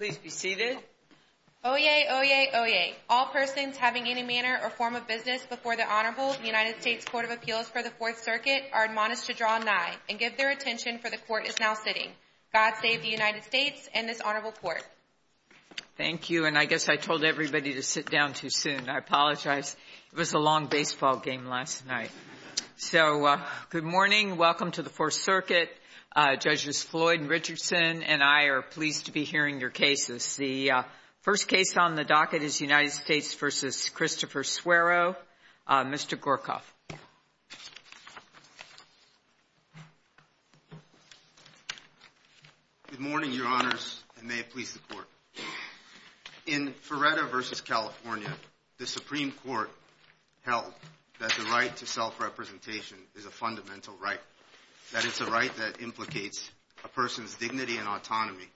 Oyez, oyez, oyez. All persons having any manner or form of business before the Honorable United States Court of Appeals for the Fourth Circuit are admonished to draw nigh and give their attention for the Court is now sitting. God save the United States and this Honorable Court. Thank you, and I guess I told everybody to sit down too soon. I apologize. It was Floyd and Richardson and I are pleased to be hearing your cases. The first case on the docket is United States v. Christopher Sueiro. Mr. Gorkoff. Good morning, Your Honors, and may it please the Court. In Ferretta v. California, the Supreme Court held that the right to self-representation is a fundamental right, that it's a right that implicates a person's dignity and autonomy.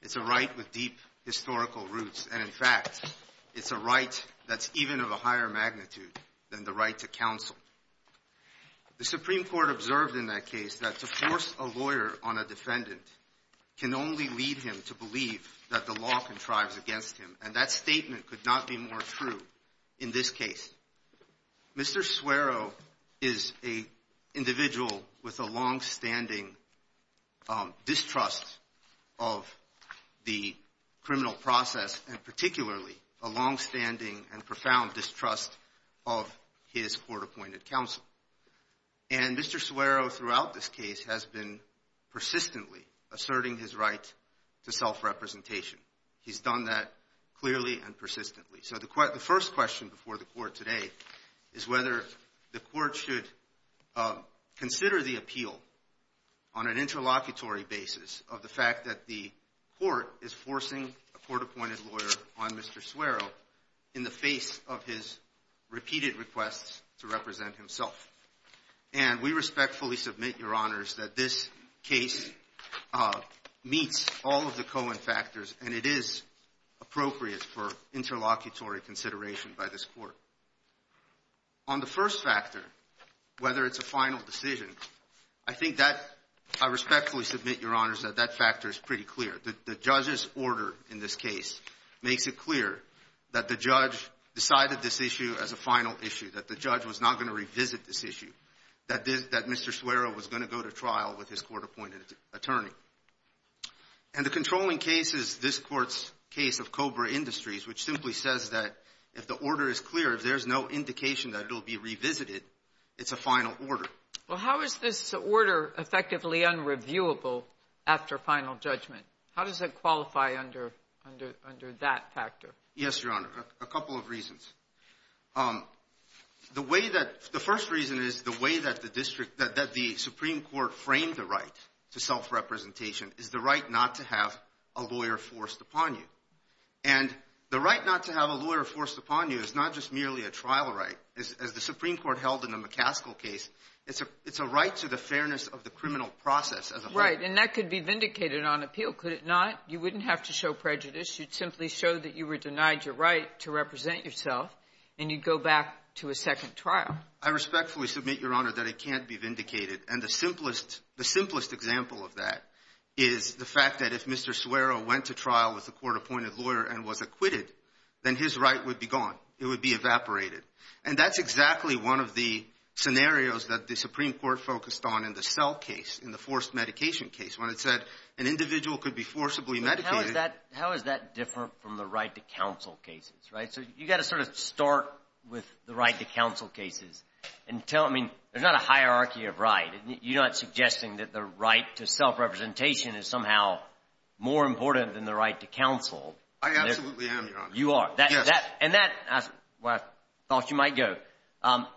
It's a right with deep historical roots, and in fact, it's a right that's even of a higher magnitude than the right to counsel. The Supreme Court observed in that case that to force a lawyer on a defendant can only lead him to believe that the law contrives against him, and that statement could not be more true in this case. Mr. Sueiro is an individual with a longstanding distrust of the criminal process, and particularly a longstanding and profound distrust of his court-appointed counsel. And Mr. Sueiro throughout this case has been persistently asserting his right to self-representation. He's done that clearly and persistently. So the first question before the Court today is whether the Court should consider the appeal on an interlocutory basis of the fact that the Court is forcing a court-appointed lawyer on Mr. Sueiro in the face of his repeated requests to represent himself. And we respectfully submit, Your Honors, that this case meets all of the Cohen factors, and it is appropriate for interlocutory consideration by this Court. On the first factor, whether it's a final decision, I think that I respectfully submit, Your Honors, that that factor is pretty clear. The judge's order in this case makes it clear that the judge decided this issue as a final issue, that the judge was not going to revisit this issue, that Mr. Sueiro was going to go to trial with his court-appointed attorney. And the controlling case is this Court's case of Cobra Industries, which simply says that if the order is clear, if there's no indication that it will be revisited, it's a final order. Well, how is this order effectively unreviewable after final judgment? How does it qualify under that factor? Yes, Your Honor, a couple of reasons. The way that the first reason is the way that the district – that the Supreme Court framed the right to self-representation is the right not to have a lawyer forced upon you. And the right not to have a lawyer forced upon you is not just merely a trial right. As the Supreme Court held in the McCaskill case, it's a right to the fairness of the criminal process as a whole. Right. And that could be vindicated on appeal, could it not? You wouldn't have to show prejudice. You'd simply show that you were denied your right to represent yourself, and you'd go back to a second trial. I respectfully submit, Your Honor, that it can't be vindicated. And the simplest example of that is the fact that if Mr. Suero went to trial with a court-appointed lawyer and was acquitted, then his right would be gone. It would be evaporated. And that's exactly one of the scenarios that the Supreme Court focused on in the Sell case, in the forced medication case, when it said an individual could be forcibly medicated. How is that different from the right to counsel cases, right? So you've got to sort of start with the right to counsel cases and tell them, I mean, there's not a hierarchy of right. You're not suggesting that the right to self-representation is somehow more important than the right to counsel. I absolutely am, Your Honor. You are. Yes. And that's where I thought you might go.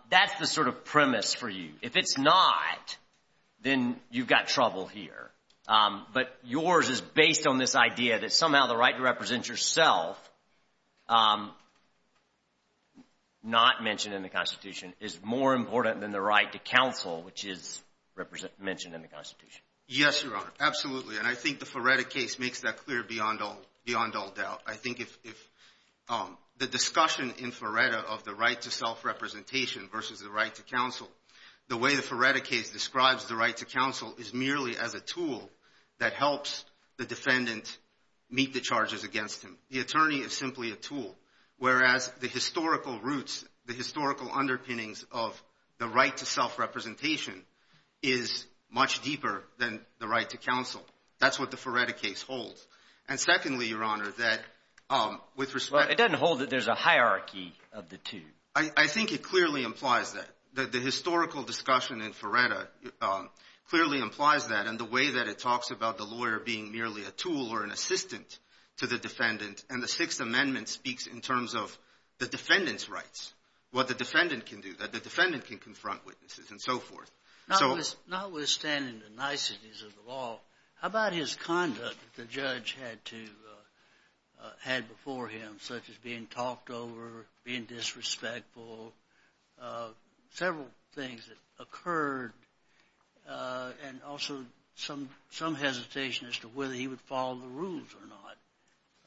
That's the sort of premise for you. If it's not, then you've got trouble here. But yours is based on this idea that somehow the right to represent yourself, not mentioned in the Constitution, is more important than the right to counsel, which is mentioned in the Constitution. Yes, Your Honor. Absolutely. And I think the Ferretta case makes that clear beyond all doubt. I think if the discussion in Ferretta of the right to self-representation versus the right to counsel, the way the Ferretta case describes the right to counsel is merely as a tool that helps the defendant meet the charges against him. The attorney is simply a tool, whereas the historical roots, the historical underpinnings of the right to self-representation is much deeper than the right to counsel. That's what the Ferretta case holds. And secondly, Your Honor, that with respect to Well, it doesn't hold that there's a hierarchy of the two. I think it clearly implies that. The historical discussion in Ferretta clearly implies that. And the way that it talks about the lawyer being merely a tool or an assistant to the defendant, and the Sixth Amendment speaks in terms of the defendant's rights, what the defendant can do, that the defendant can confront witnesses and so forth. Notwithstanding the niceties of the law, how about his conduct that the judge had to before him, such as being talked over, being disrespectful, several things that occurred, and also some hesitation as to whether he would follow the rules or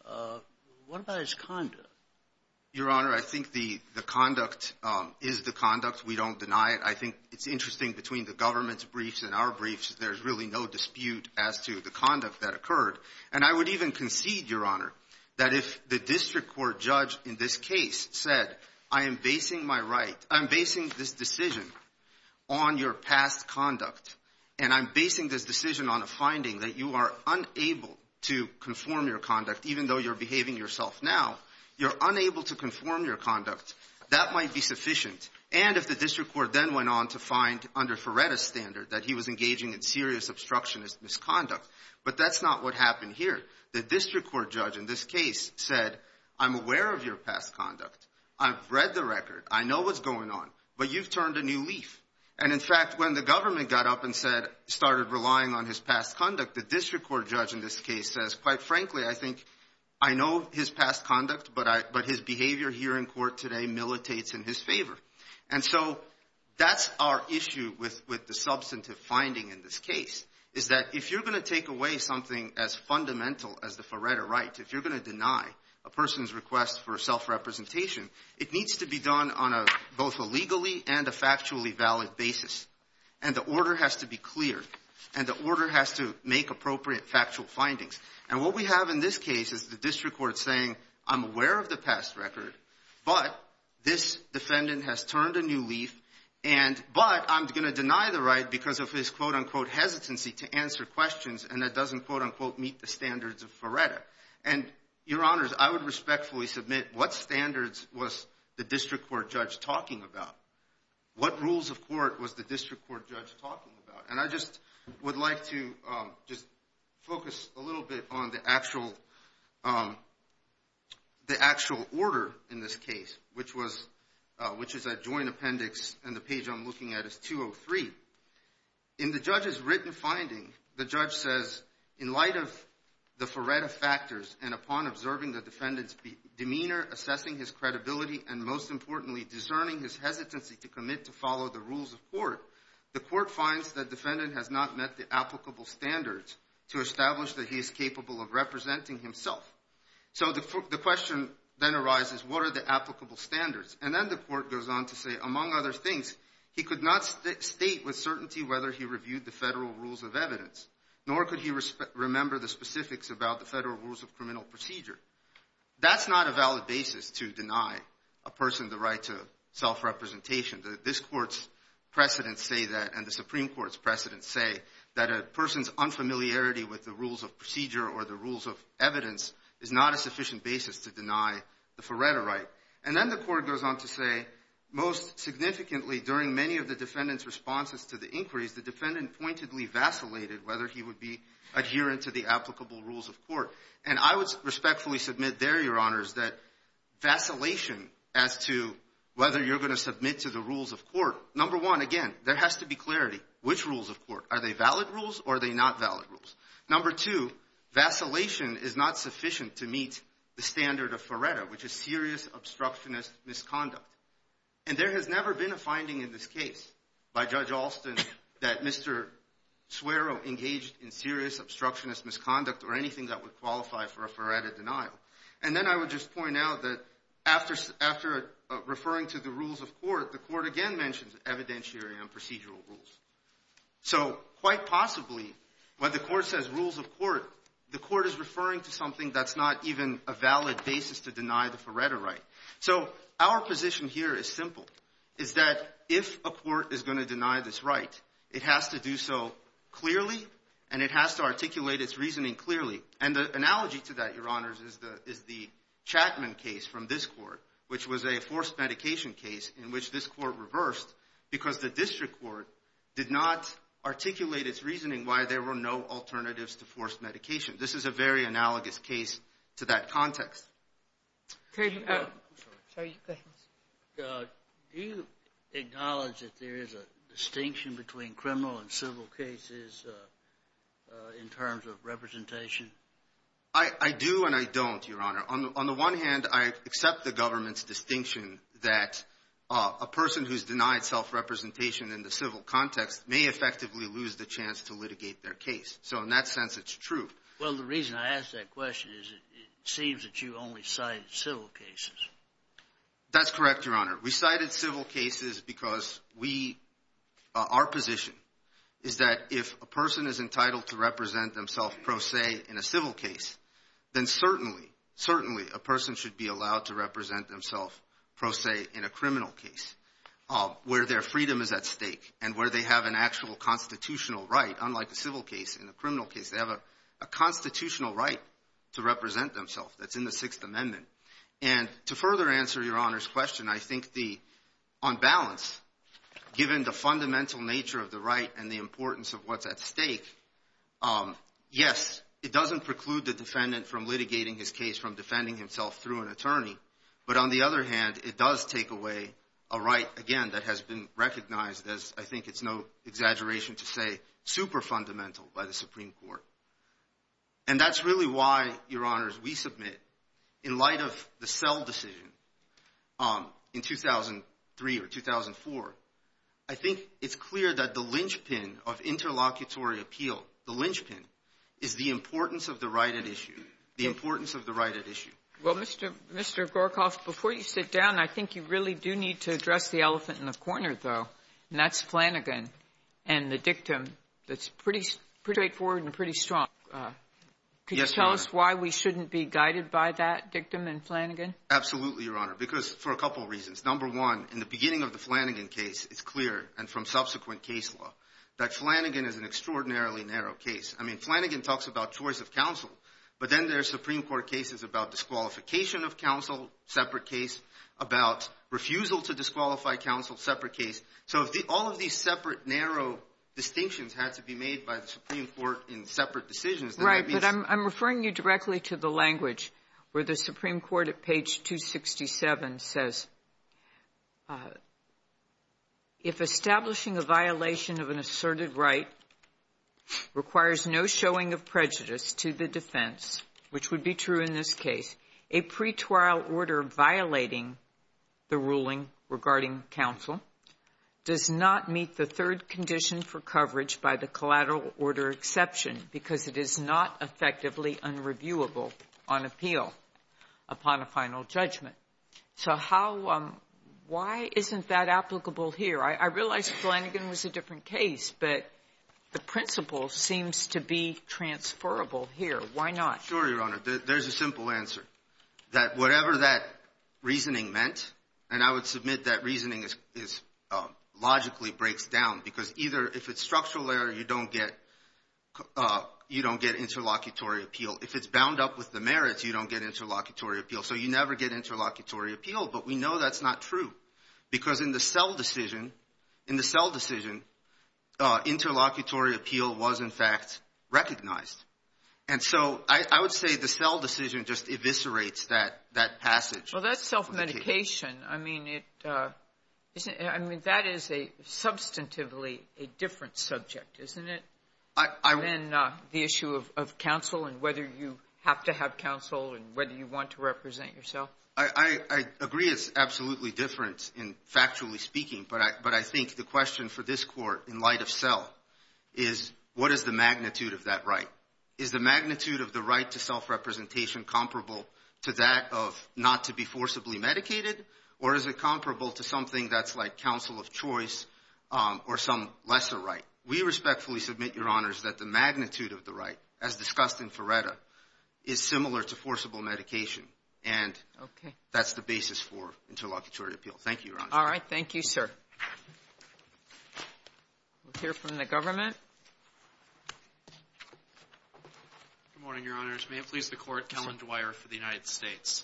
not. What about his conduct? Your Honor, I think the conduct is the conduct. We don't deny it. I think it's interesting between the government's briefs and our briefs, there's really no dispute as to the conduct that occurred. And I would even concede, Your Honor, that if the district court judge in this case said, I am basing my right, I'm basing this decision on your past conduct, and I'm basing this decision on a finding that you are unable to conform your conduct, even though you're behaving yourself now, you're unable to conform your conduct, that might be sufficient. And if the district court then went on to find under Ferretta's standard that he was that's not what happened here. The district court judge in this case said, I'm aware of your past conduct. I've read the record. I know what's going on. But you've turned a new leaf. And in fact, when the government got up and started relying on his past conduct, the district court judge in this case says, quite frankly, I think I know his past conduct, but his behavior here in court today militates in his favor. And so that's our issue with the substantive finding in this case, is that if you're going to take away something as fundamental as the Ferretta right, if you're going to deny a person's request for self-representation, it needs to be done on a both a legally and a factually valid basis. And the order has to be clear. And the order has to make appropriate factual findings. And what we have in this case is the district court saying, I'm aware of the past record, but this defendant has turned a new leaf. But I'm going to deny the right because of his, quote, unquote, hesitancy to answer questions. And that doesn't, quote, unquote, meet the standards of Ferretta. And your honors, I would respectfully submit, what standards was the district court judge talking about? What rules of court was the district court judge talking about? And I just would like to just focus a little bit on the actual order in this case, which is a joint appendix. And the page I'm looking at is 203. In the judge's written finding, the judge says, in light of the Ferretta factors and upon observing the defendant's demeanor, assessing his credibility, and most importantly, discerning his hesitancy to commit to follow the rules of court, the court finds that defendant has not met the applicable standards to establish that he is capable of representing himself. So the question then arises, what are the applicable standards? And then the court goes on to say, among other things, he could not state with certainty whether he reviewed the federal rules of evidence, nor could he remember the specifics about the federal rules of criminal procedure. That's not a valid basis to deny a person the right to self-representation. This court's precedents say that, and the Supreme Court's precedents say, that a person's unfamiliarity with the rules of procedure or the rules of evidence is not a sufficient basis to deny the Ferretta right. And then the court goes on to say, most significantly, during many of the defendant's responses to the inquiries, the defendant pointedly vacillated whether he would be adherent to the applicable rules of court. And I would respectfully submit there, Your Honors, that vacillation as to whether you're going to submit to the rules of court, number one, again, there has to be clarity. Which rules of court? Are they valid rules or are they not valid rules? Number two, vacillation is not sufficient to meet the standard of Ferretta, which is serious obstructionist misconduct. And there has never been a finding in this case by Judge Alston that Mr. Suero engaged in serious obstructionist misconduct or anything that would qualify for a Ferretta denial. And then I would just point out that after referring to the rules of court, the court is referring to something that's not even a valid basis to deny the Ferretta right. So our position here is simple, is that if a court is going to deny this right, it has to do so clearly and it has to articulate its reasoning clearly. And the analogy to that, Your Honors, is the Chatman case from this court, which was a forced medication case in which this court reversed because the district court did not articulate its reasoning why there were no alternatives to forced medication. This is a very analogous case to that context. Do you acknowledge that there is a distinction between criminal and civil cases in terms of representation? I do and I don't, Your Honor. On the one hand, I accept the government's distinction that a person who's denied self-representation in the civil context may effectively lose the chance to litigate their case. So in that sense, it's true. Well, the reason I ask that question is it seems that you only cited civil cases. That's correct, Your Honor. We cited civil cases because we – our position is that if a person is entitled to represent themselves pro se in a civil case, then certainly, certainly a person should be allowed to represent themselves pro se in a criminal case where their freedom is at stake and where they have an actual constitutional right, unlike a civil case and a criminal case. They have a constitutional right to represent themselves that's in the Sixth Amendment. And to the extent that we take away that right and the importance of what's at stake, yes, it doesn't preclude the defendant from litigating his case, from defending himself through an attorney. But on the other hand, it does take away a right, again, that has been recognized as, I think it's no exaggeration to say, super fundamental by the Supreme Court. And that's really why, Your Honors, we submit in light of the Sell decision in 2003 or 2004, I think it's clear that the linchpin of interlocutory appeal, the linchpin, is the importance of the right at issue, the importance of the right at issue. Well, Mr. Gorkoff, before you sit down, I think you really do need to address the elephant in the corner, though, and that's Flanagan and the dictum that's pretty straightforward and pretty strong. Could you tell us why we shouldn't be guided by that dictum in Flanagan? Absolutely, Your Honor, because for a couple reasons. Number one, in the beginning of the Flanagan case, it's clear, and from subsequent case law, that Flanagan is an extraordinarily narrow case. I mean, Flanagan talks about choice of counsel, but then there's Supreme Court cases about disqualification of counsel, separate case, about refusal to disqualify counsel, separate case. So if all of these separate, narrow distinctions had to be made by the Supreme Court in separate decisions, there would be — Right. But I'm referring you directly to the language where the Supreme Court at page 267 says, if establishing a violation of an asserted right requires no showing of prejudice to the defense, which would be true in this case, a pretrial order violating the ruling regarding counsel does not meet the third condition for coverage by the collateral order exception because it is not effectively unreviewable on appeal upon a final judgment. So how — why isn't that applicable here? I realize Flanagan was a different case, but the principle seems to be transferable here. Why not? Sure, Your Honor. There's a simple answer, that whatever that reasoning meant, and I would submit that reasoning is — logically breaks down because either if it's structural error, you don't get — you don't get interlocutory appeal. If it's bound up with the merits, you don't get interlocutory appeal. So you never get interlocutory appeal. But we know that's not true because in the Sell decision — in the Sell decision just eviscerates that passage. Well, that's self-medication. I mean, it — I mean, that is a — substantively a different subject, isn't it, than the issue of counsel and whether you have to have counsel and whether you want to represent yourself? I agree it's absolutely different in — factually speaking, but I think the question for this Court in light of Sell is, what is the magnitude of that right? Is the magnitude of the right to self-representation comparable to that of not to be forcibly medicated, or is it comparable to something that's like counsel of choice or some lesser right? We respectfully submit, Your Honors, that the magnitude of the right, as discussed in Ferretta, is similar to forcible medication. Okay. And that's the basis for interlocutory appeal. Thank you, Your Honors. All right. Thank you, sir. We'll hear from the government. Good morning, Your Honors. May it please the Court. Kellen Dwyer for the United States.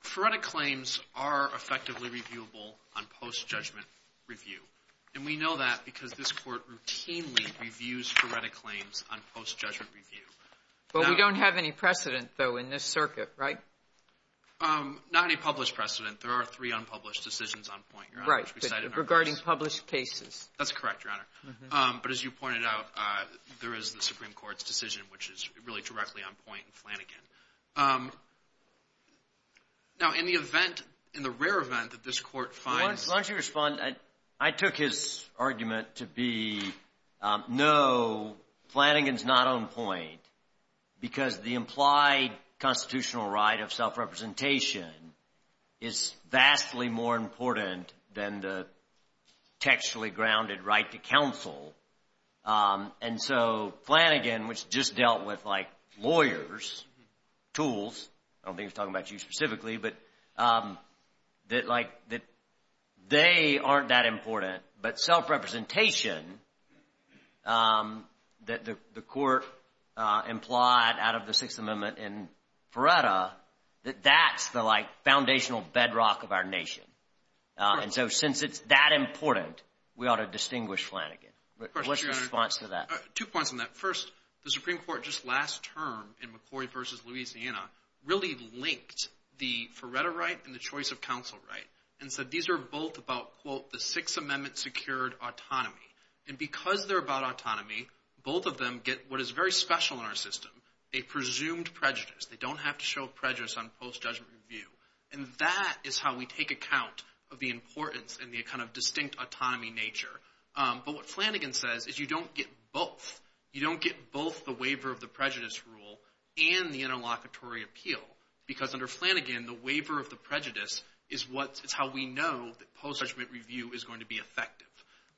Ferretta claims are effectively reviewable on post-judgment review, and we know that because this Court routinely reviews Ferretta claims on post-judgment review. But we don't have any precedent, though, in this circuit, right? Not any published precedent. There are three unpublished decisions on point, Your Honor, which we cite in our verse. Right, regarding published cases. That's correct, Your Honor. But as you pointed out, there is the Supreme Court's decision, which is really directly on point in Flanagan. Now, in the event, in the rare event that this Court finds Why don't you respond? I took his argument to be, no, Flanagan's not on point because the implied constitutional right of self-representation is vastly more important than the sexually grounded right to counsel. And so Flanagan, which just dealt with, like, lawyers, tools, I don't think he's talking about you specifically, but that, like, that they aren't that important, but self-representation that the Court implied out of the Sixth Amendment in Ferretta, that that's the, like, foundational bedrock of our nation. And so since it's that important, we ought to distinguish Flanagan. What's your response to that? Two points on that. First, the Supreme Court just last term in McCoy v. Louisiana really linked the Ferretta right and the choice of counsel right. And so these are both about, quote, the Sixth Amendment secured autonomy. And because they're about autonomy, both of them get what is very special in our system, a presumed prejudice. They don't have to show prejudice on post-judgment review. And that is how we take account of the importance and the kind of distinct autonomy nature. But what Flanagan says is you don't get both. You don't get both the waiver of the prejudice rule and the interlocutory appeal because under Flanagan, the waiver of the prejudice is how we know that post-judgment review is going to be effective.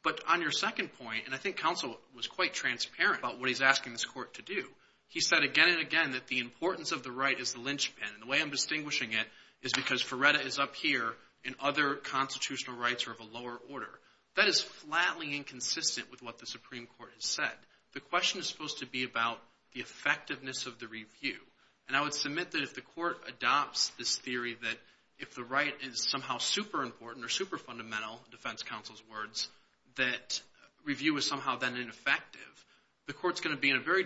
But on your second point, and I think counsel was quite transparent about what he's asking this Court to do, he said again and again that the importance of the right is the linchpin. And the way I'm distinguishing it is because Ferretta is up here and other constitutional rights are of a lower order. That is flatly inconsistent with what the Supreme Court has said. The question is supposed to be about the effectiveness of the review. And I would submit that if the Court adopts this theory that if the right is somehow super important or super fundamental, defense counsel's words, that review is somehow then ineffective, the Court's going to be in a very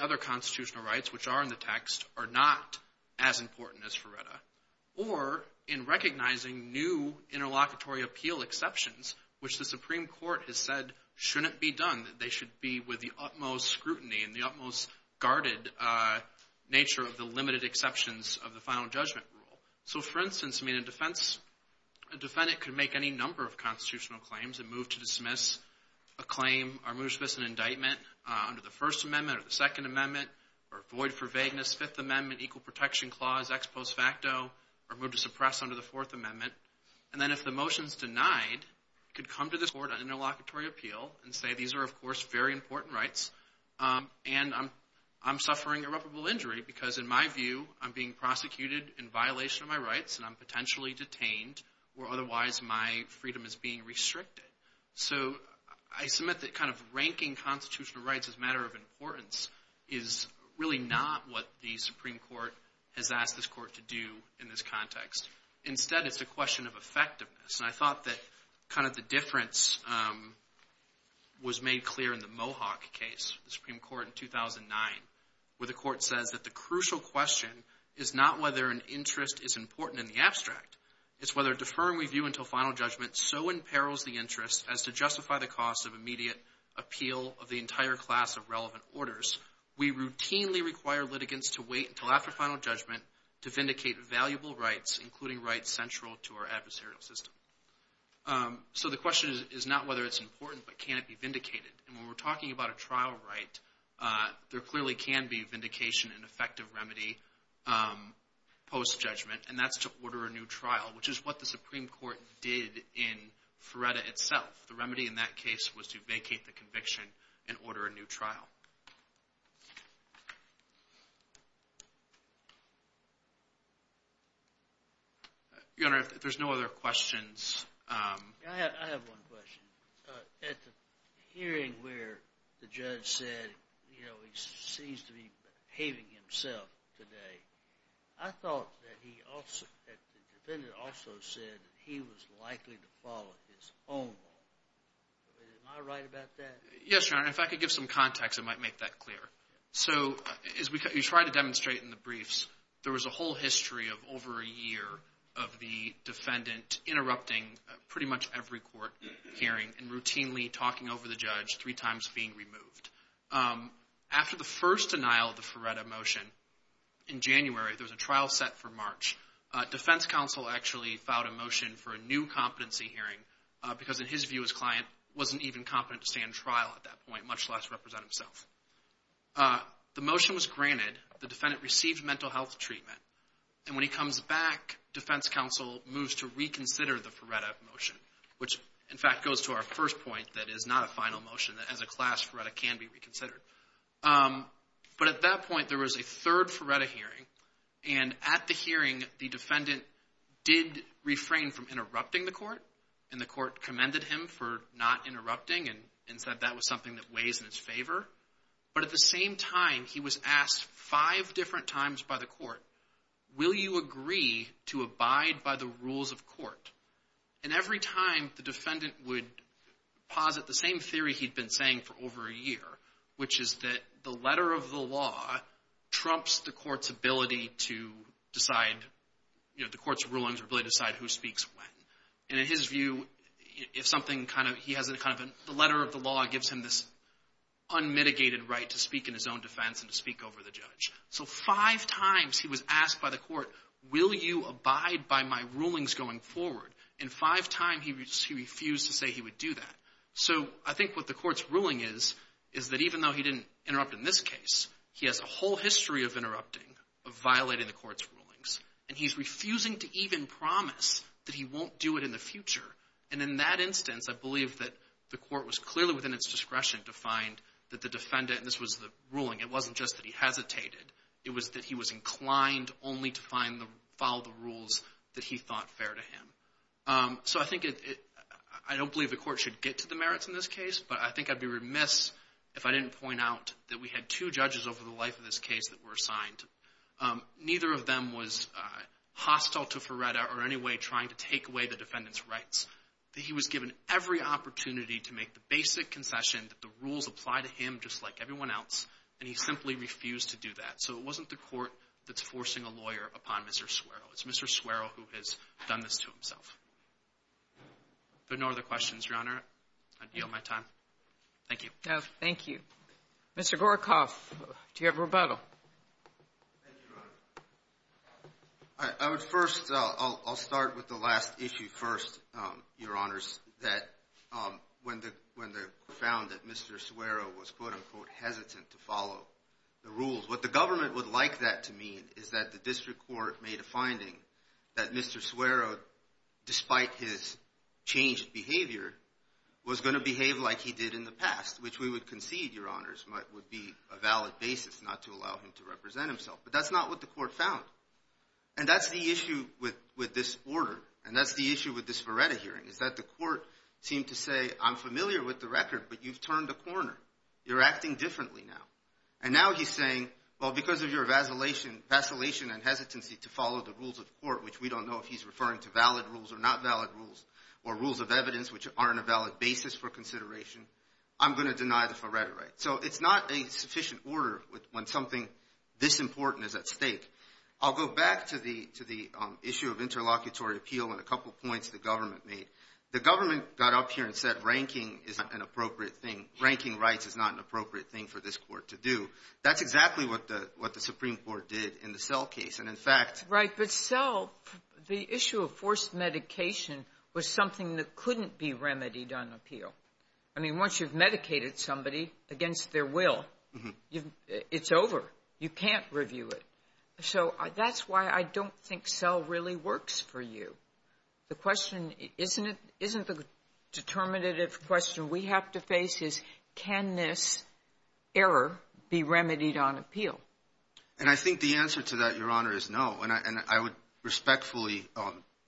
other constitutional rights, which are in the text, are not as important as Ferretta. Or, in recognizing new interlocutory appeal exceptions, which the Supreme Court has said shouldn't be done, that they should be with the utmost scrutiny and the utmost guarded nature of the limited exceptions of the final judgment rule. So, for instance, a defendant could make any number of constitutional claims and move to dismiss a claim, or move to dismiss an indictment under the First Amendment or the Second Amendment, or void for vagueness Fifth Amendment Equal Protection Clause, ex post facto, or move to suppress under the Fourth Amendment. And then if the motion's denied, could come to the Court on interlocutory appeal and say, these are, of course, very important rights and I'm suffering irreparable injury because, in my view, I'm being prosecuted in violation of my rights and I'm potentially detained, or otherwise my freedom is being restricted. So, I submit that kind of ranking constitutional rights as a matter of importance is really not what the Supreme Court has asked this Court to do in this context. Instead, it's a question of effectiveness. And I thought that kind of the difference was made clear in the Mohawk case, the Supreme Court, in 2009, where the Court says that the crucial question is not whether an interest is important in the abstract. It's whether a deferring review until final judgment so imperils the interest as to justify the cost of immediate appeal of the entire class of relevant orders. We routinely require litigants to wait until after final judgment to vindicate valuable rights, including rights central to our adversarial system. So, the question is not whether it's important, but can it be vindicated? And when we're talking about a trial right, there clearly can be vindication and effective remedy post-judgment. And that's to order a new trial, which is what the Supreme Court did in Ferretta itself. The remedy in that case was to vacate the conviction and order a new trial. Your Honor, if there's no other questions. I have one question. At the hearing where the judge said, you know, he seems to be behaving himself today, I thought that the defendant also said he was likely to follow his own law. Am I right about that? Yes, Your Honor. If I could give some context, I might make that clear. So, as we try to demonstrate in the briefs, there was a whole history of over a year of the defendant interrupting pretty much every court hearing and routinely talking over the judge three times being removed. After the first denial of the Ferretta motion in January, there was a trial set for March. Defense counsel actually filed a motion for a new competency hearing because in his view, his client wasn't even competent to stand trial at that point, much less represent himself. The motion was granted. The defendant received mental health treatment. And when he comes back, defense counsel moves to reconsider the Ferretta motion, which, in fact, goes to our first point that is not a final motion, that as a class, Ferretta can be reconsidered. But at that point, there was a third Ferretta hearing, and at the hearing, the defendant did refrain from interrupting the court, and the court commended him for not interrupting and said that was something that weighs in his favor. But at the same time, he was asked five different times by the court, will you agree to abide by the rules of court? And every time, the defendant would posit the same theory he'd been saying for over a year, which is that the letter of the law trumps the court's ability to decide, you know, the court's rulings or ability to decide who speaks when. And in his view, if something kind of, he has a kind of, the letter of the law gives him this unmitigated right to speak in his own defense and to speak over the judge. So five times, he was asked by the court, will you abide by my rulings going forward? And five times, he refused to say he would do that. So I think what the court's ruling is, is that even though he didn't interrupt in this case, he has a whole history of interrupting, of violating the court's rulings. And he's refusing to even promise that he won't do it in the future. And in that instance, I believe that the court was clearly within its discretion to find that the defendant, and this was the ruling, it wasn't just that he hesitated. It was that he was inclined only to follow the rules that he thought fair to him. So I think it, I don't believe the court should get to the merits in this case, but I think I'd be remiss if I didn't point out that we had two judges over the life of this case that were assigned. Neither of them was hostile to Ferretta or in any way trying to take away the opportunity to make the basic concession that the rules apply to him just like everyone else, and he simply refused to do that. So it wasn't the court that's forcing a lawyer upon Mr. Suero. It's Mr. Suero who has done this to himself. If there are no other questions, Your Honor, I'd yield my time. Thank you. Thank you. Mr. Gorkoff, do you have a rebuttal? Thank you, Your Honor. I would first, I'll start with the last issue first, Your Honors, that when the found that Mr. Suero was, quote-unquote, hesitant to follow the rules. What the government would like that to mean is that the district court made a finding that Mr. Suero, despite his changed behavior, was going to behave like he did in the past, which we would concede, Your Honors, would be a valid basis not to allow him to represent himself. But that's not what the court found. And that's the issue with this order, and that's the issue with this Vareta hearing, is that the court seemed to say, I'm familiar with the record, but you've turned a corner. You're acting differently now. And now he's saying, well, because of your vacillation and hesitancy to follow the rules of court, which we don't know if he's referring to valid rules or not valid rules, or rules of evidence which aren't a valid basis for consideration, I'm going to deny the Vareta right. So it's not a sufficient order when something this important is at stake. I'll go back to the issue of interlocutory appeal and a couple points the government made. The government got up here and said ranking is not an appropriate thing. Ranking rights is not an appropriate thing for this court to do. That's exactly what the Supreme Court did in the Sell case. And in fact – Right, but Sell, the issue of forced medication was something that couldn't be remedied on appeal. I mean, once you've medicated somebody against their will, it's over. You can't review it. So that's why I don't think Sell really works for you. The question isn't the determinative question we have to face is can this error be remedied on appeal? And I think the answer to that, Your Honor, is no. And I would respectfully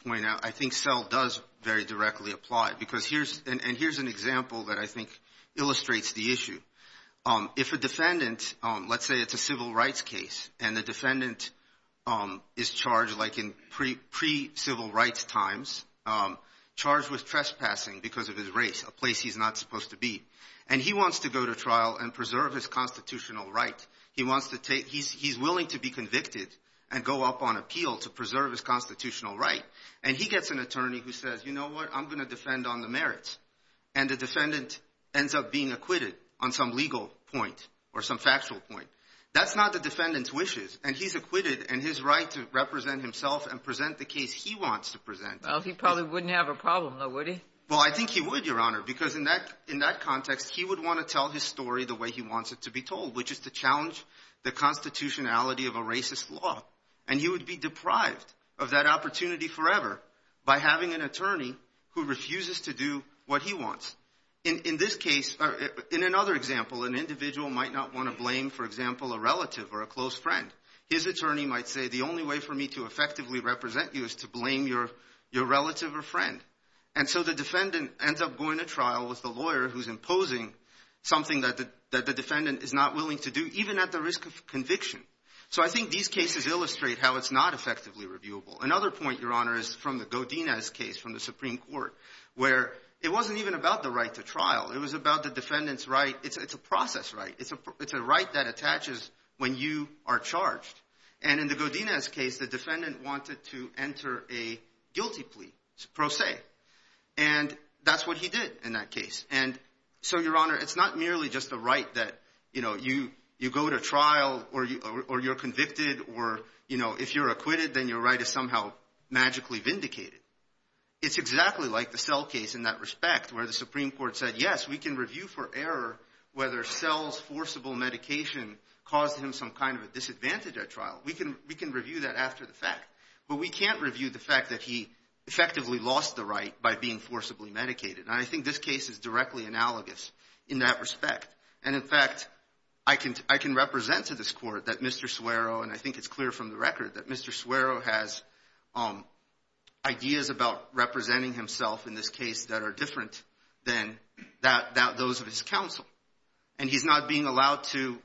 point out I think Sell does very directly apply. And here's an example that I think illustrates the issue. If a defendant, let's say it's a civil rights case, and the defendant is charged like in pre-civil rights times, charged with trespassing because of his race, a place he's not supposed to be. And he wants to go to trial and preserve his constitutional right. He's willing to be convicted and go up on appeal to preserve his constitutional right. And he gets an attorney who says, you know what, I'm going to defend on the merits. And the defendant ends up being acquitted on some legal point or some factual point. That's not the defendant's wishes. And he's acquitted in his right to represent himself and present the case he wants to present. Well, he probably wouldn't have a problem, though, would he? Well, I think he would, Your Honor, because in that context, he would want to tell his story the way he wants it to be told, which is to challenge the constitutionality of a racist law. And he would be deprived of that opportunity forever by having an attorney who refuses to do what he wants. In this case, or in another example, an individual might not want to blame, for example, a relative or a close friend. His attorney might say, the only way for me to effectively represent you is to blame your relative or friend. And so the defendant ends up going to trial with the lawyer who's imposing something that the defendant is not willing to do, even at the risk of conviction. So I think these cases illustrate how it's not effectively reviewable. Another point, Your Honor, is from the Godinez case from the Supreme Court, where it wasn't even about the right to trial. It was about the defendant's right. It's a process right. It's a right that attaches when you are charged. And in the Godinez case, the defendant wanted to enter a guilty plea, pro se. And that's what he did in that case. And so, Your Honor, it's not merely just a right that, you know, you go to trial or you're convicted or, you know, if you're acquitted, then your right is somehow magically vindicated. It's exactly like the Sell case in that respect, where the Supreme Court said, yes, we can review for error whether Sell's forcible medication caused him some kind of a disadvantage at trial. We can review that after the fact. But we can't review the fact that he effectively lost the right by being forcibly medicated. And I think this case is directly analogous in that respect. And, in fact, I can represent to this Court that Mr. Suero, and I think it's clear from the record that Mr. Suero has ideas about representing himself in this case that are different than those of his counsel. And he's not being allowed to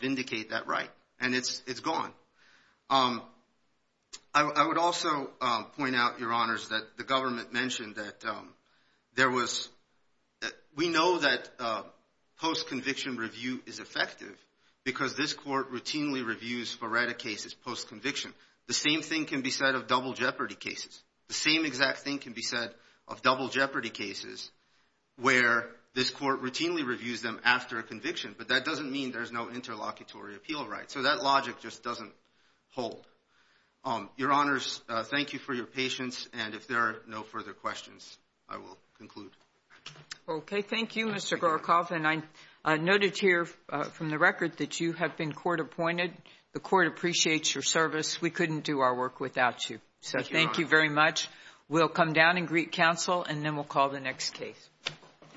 vindicate that right. And it's gone. I would also point out, Your Honors, that the government mentioned that there was we know that post-conviction review is effective because this Court routinely reviews foreta cases post-conviction. The same thing can be said of double jeopardy cases. The same exact thing can be said of double jeopardy cases where this Court routinely reviews them after a conviction. But that doesn't mean there's no interlocutory appeal right. So that logic just doesn't hold. Your Honors, thank you for your patience. And if there are no further questions, I will conclude. Okay. Thank you, Mr. Gorokoff. And I noted here from the record that you have been court appointed. The Court appreciates your service. We couldn't do our work without you. So thank you very much. We'll come down and greet counsel, and then we'll call the next case.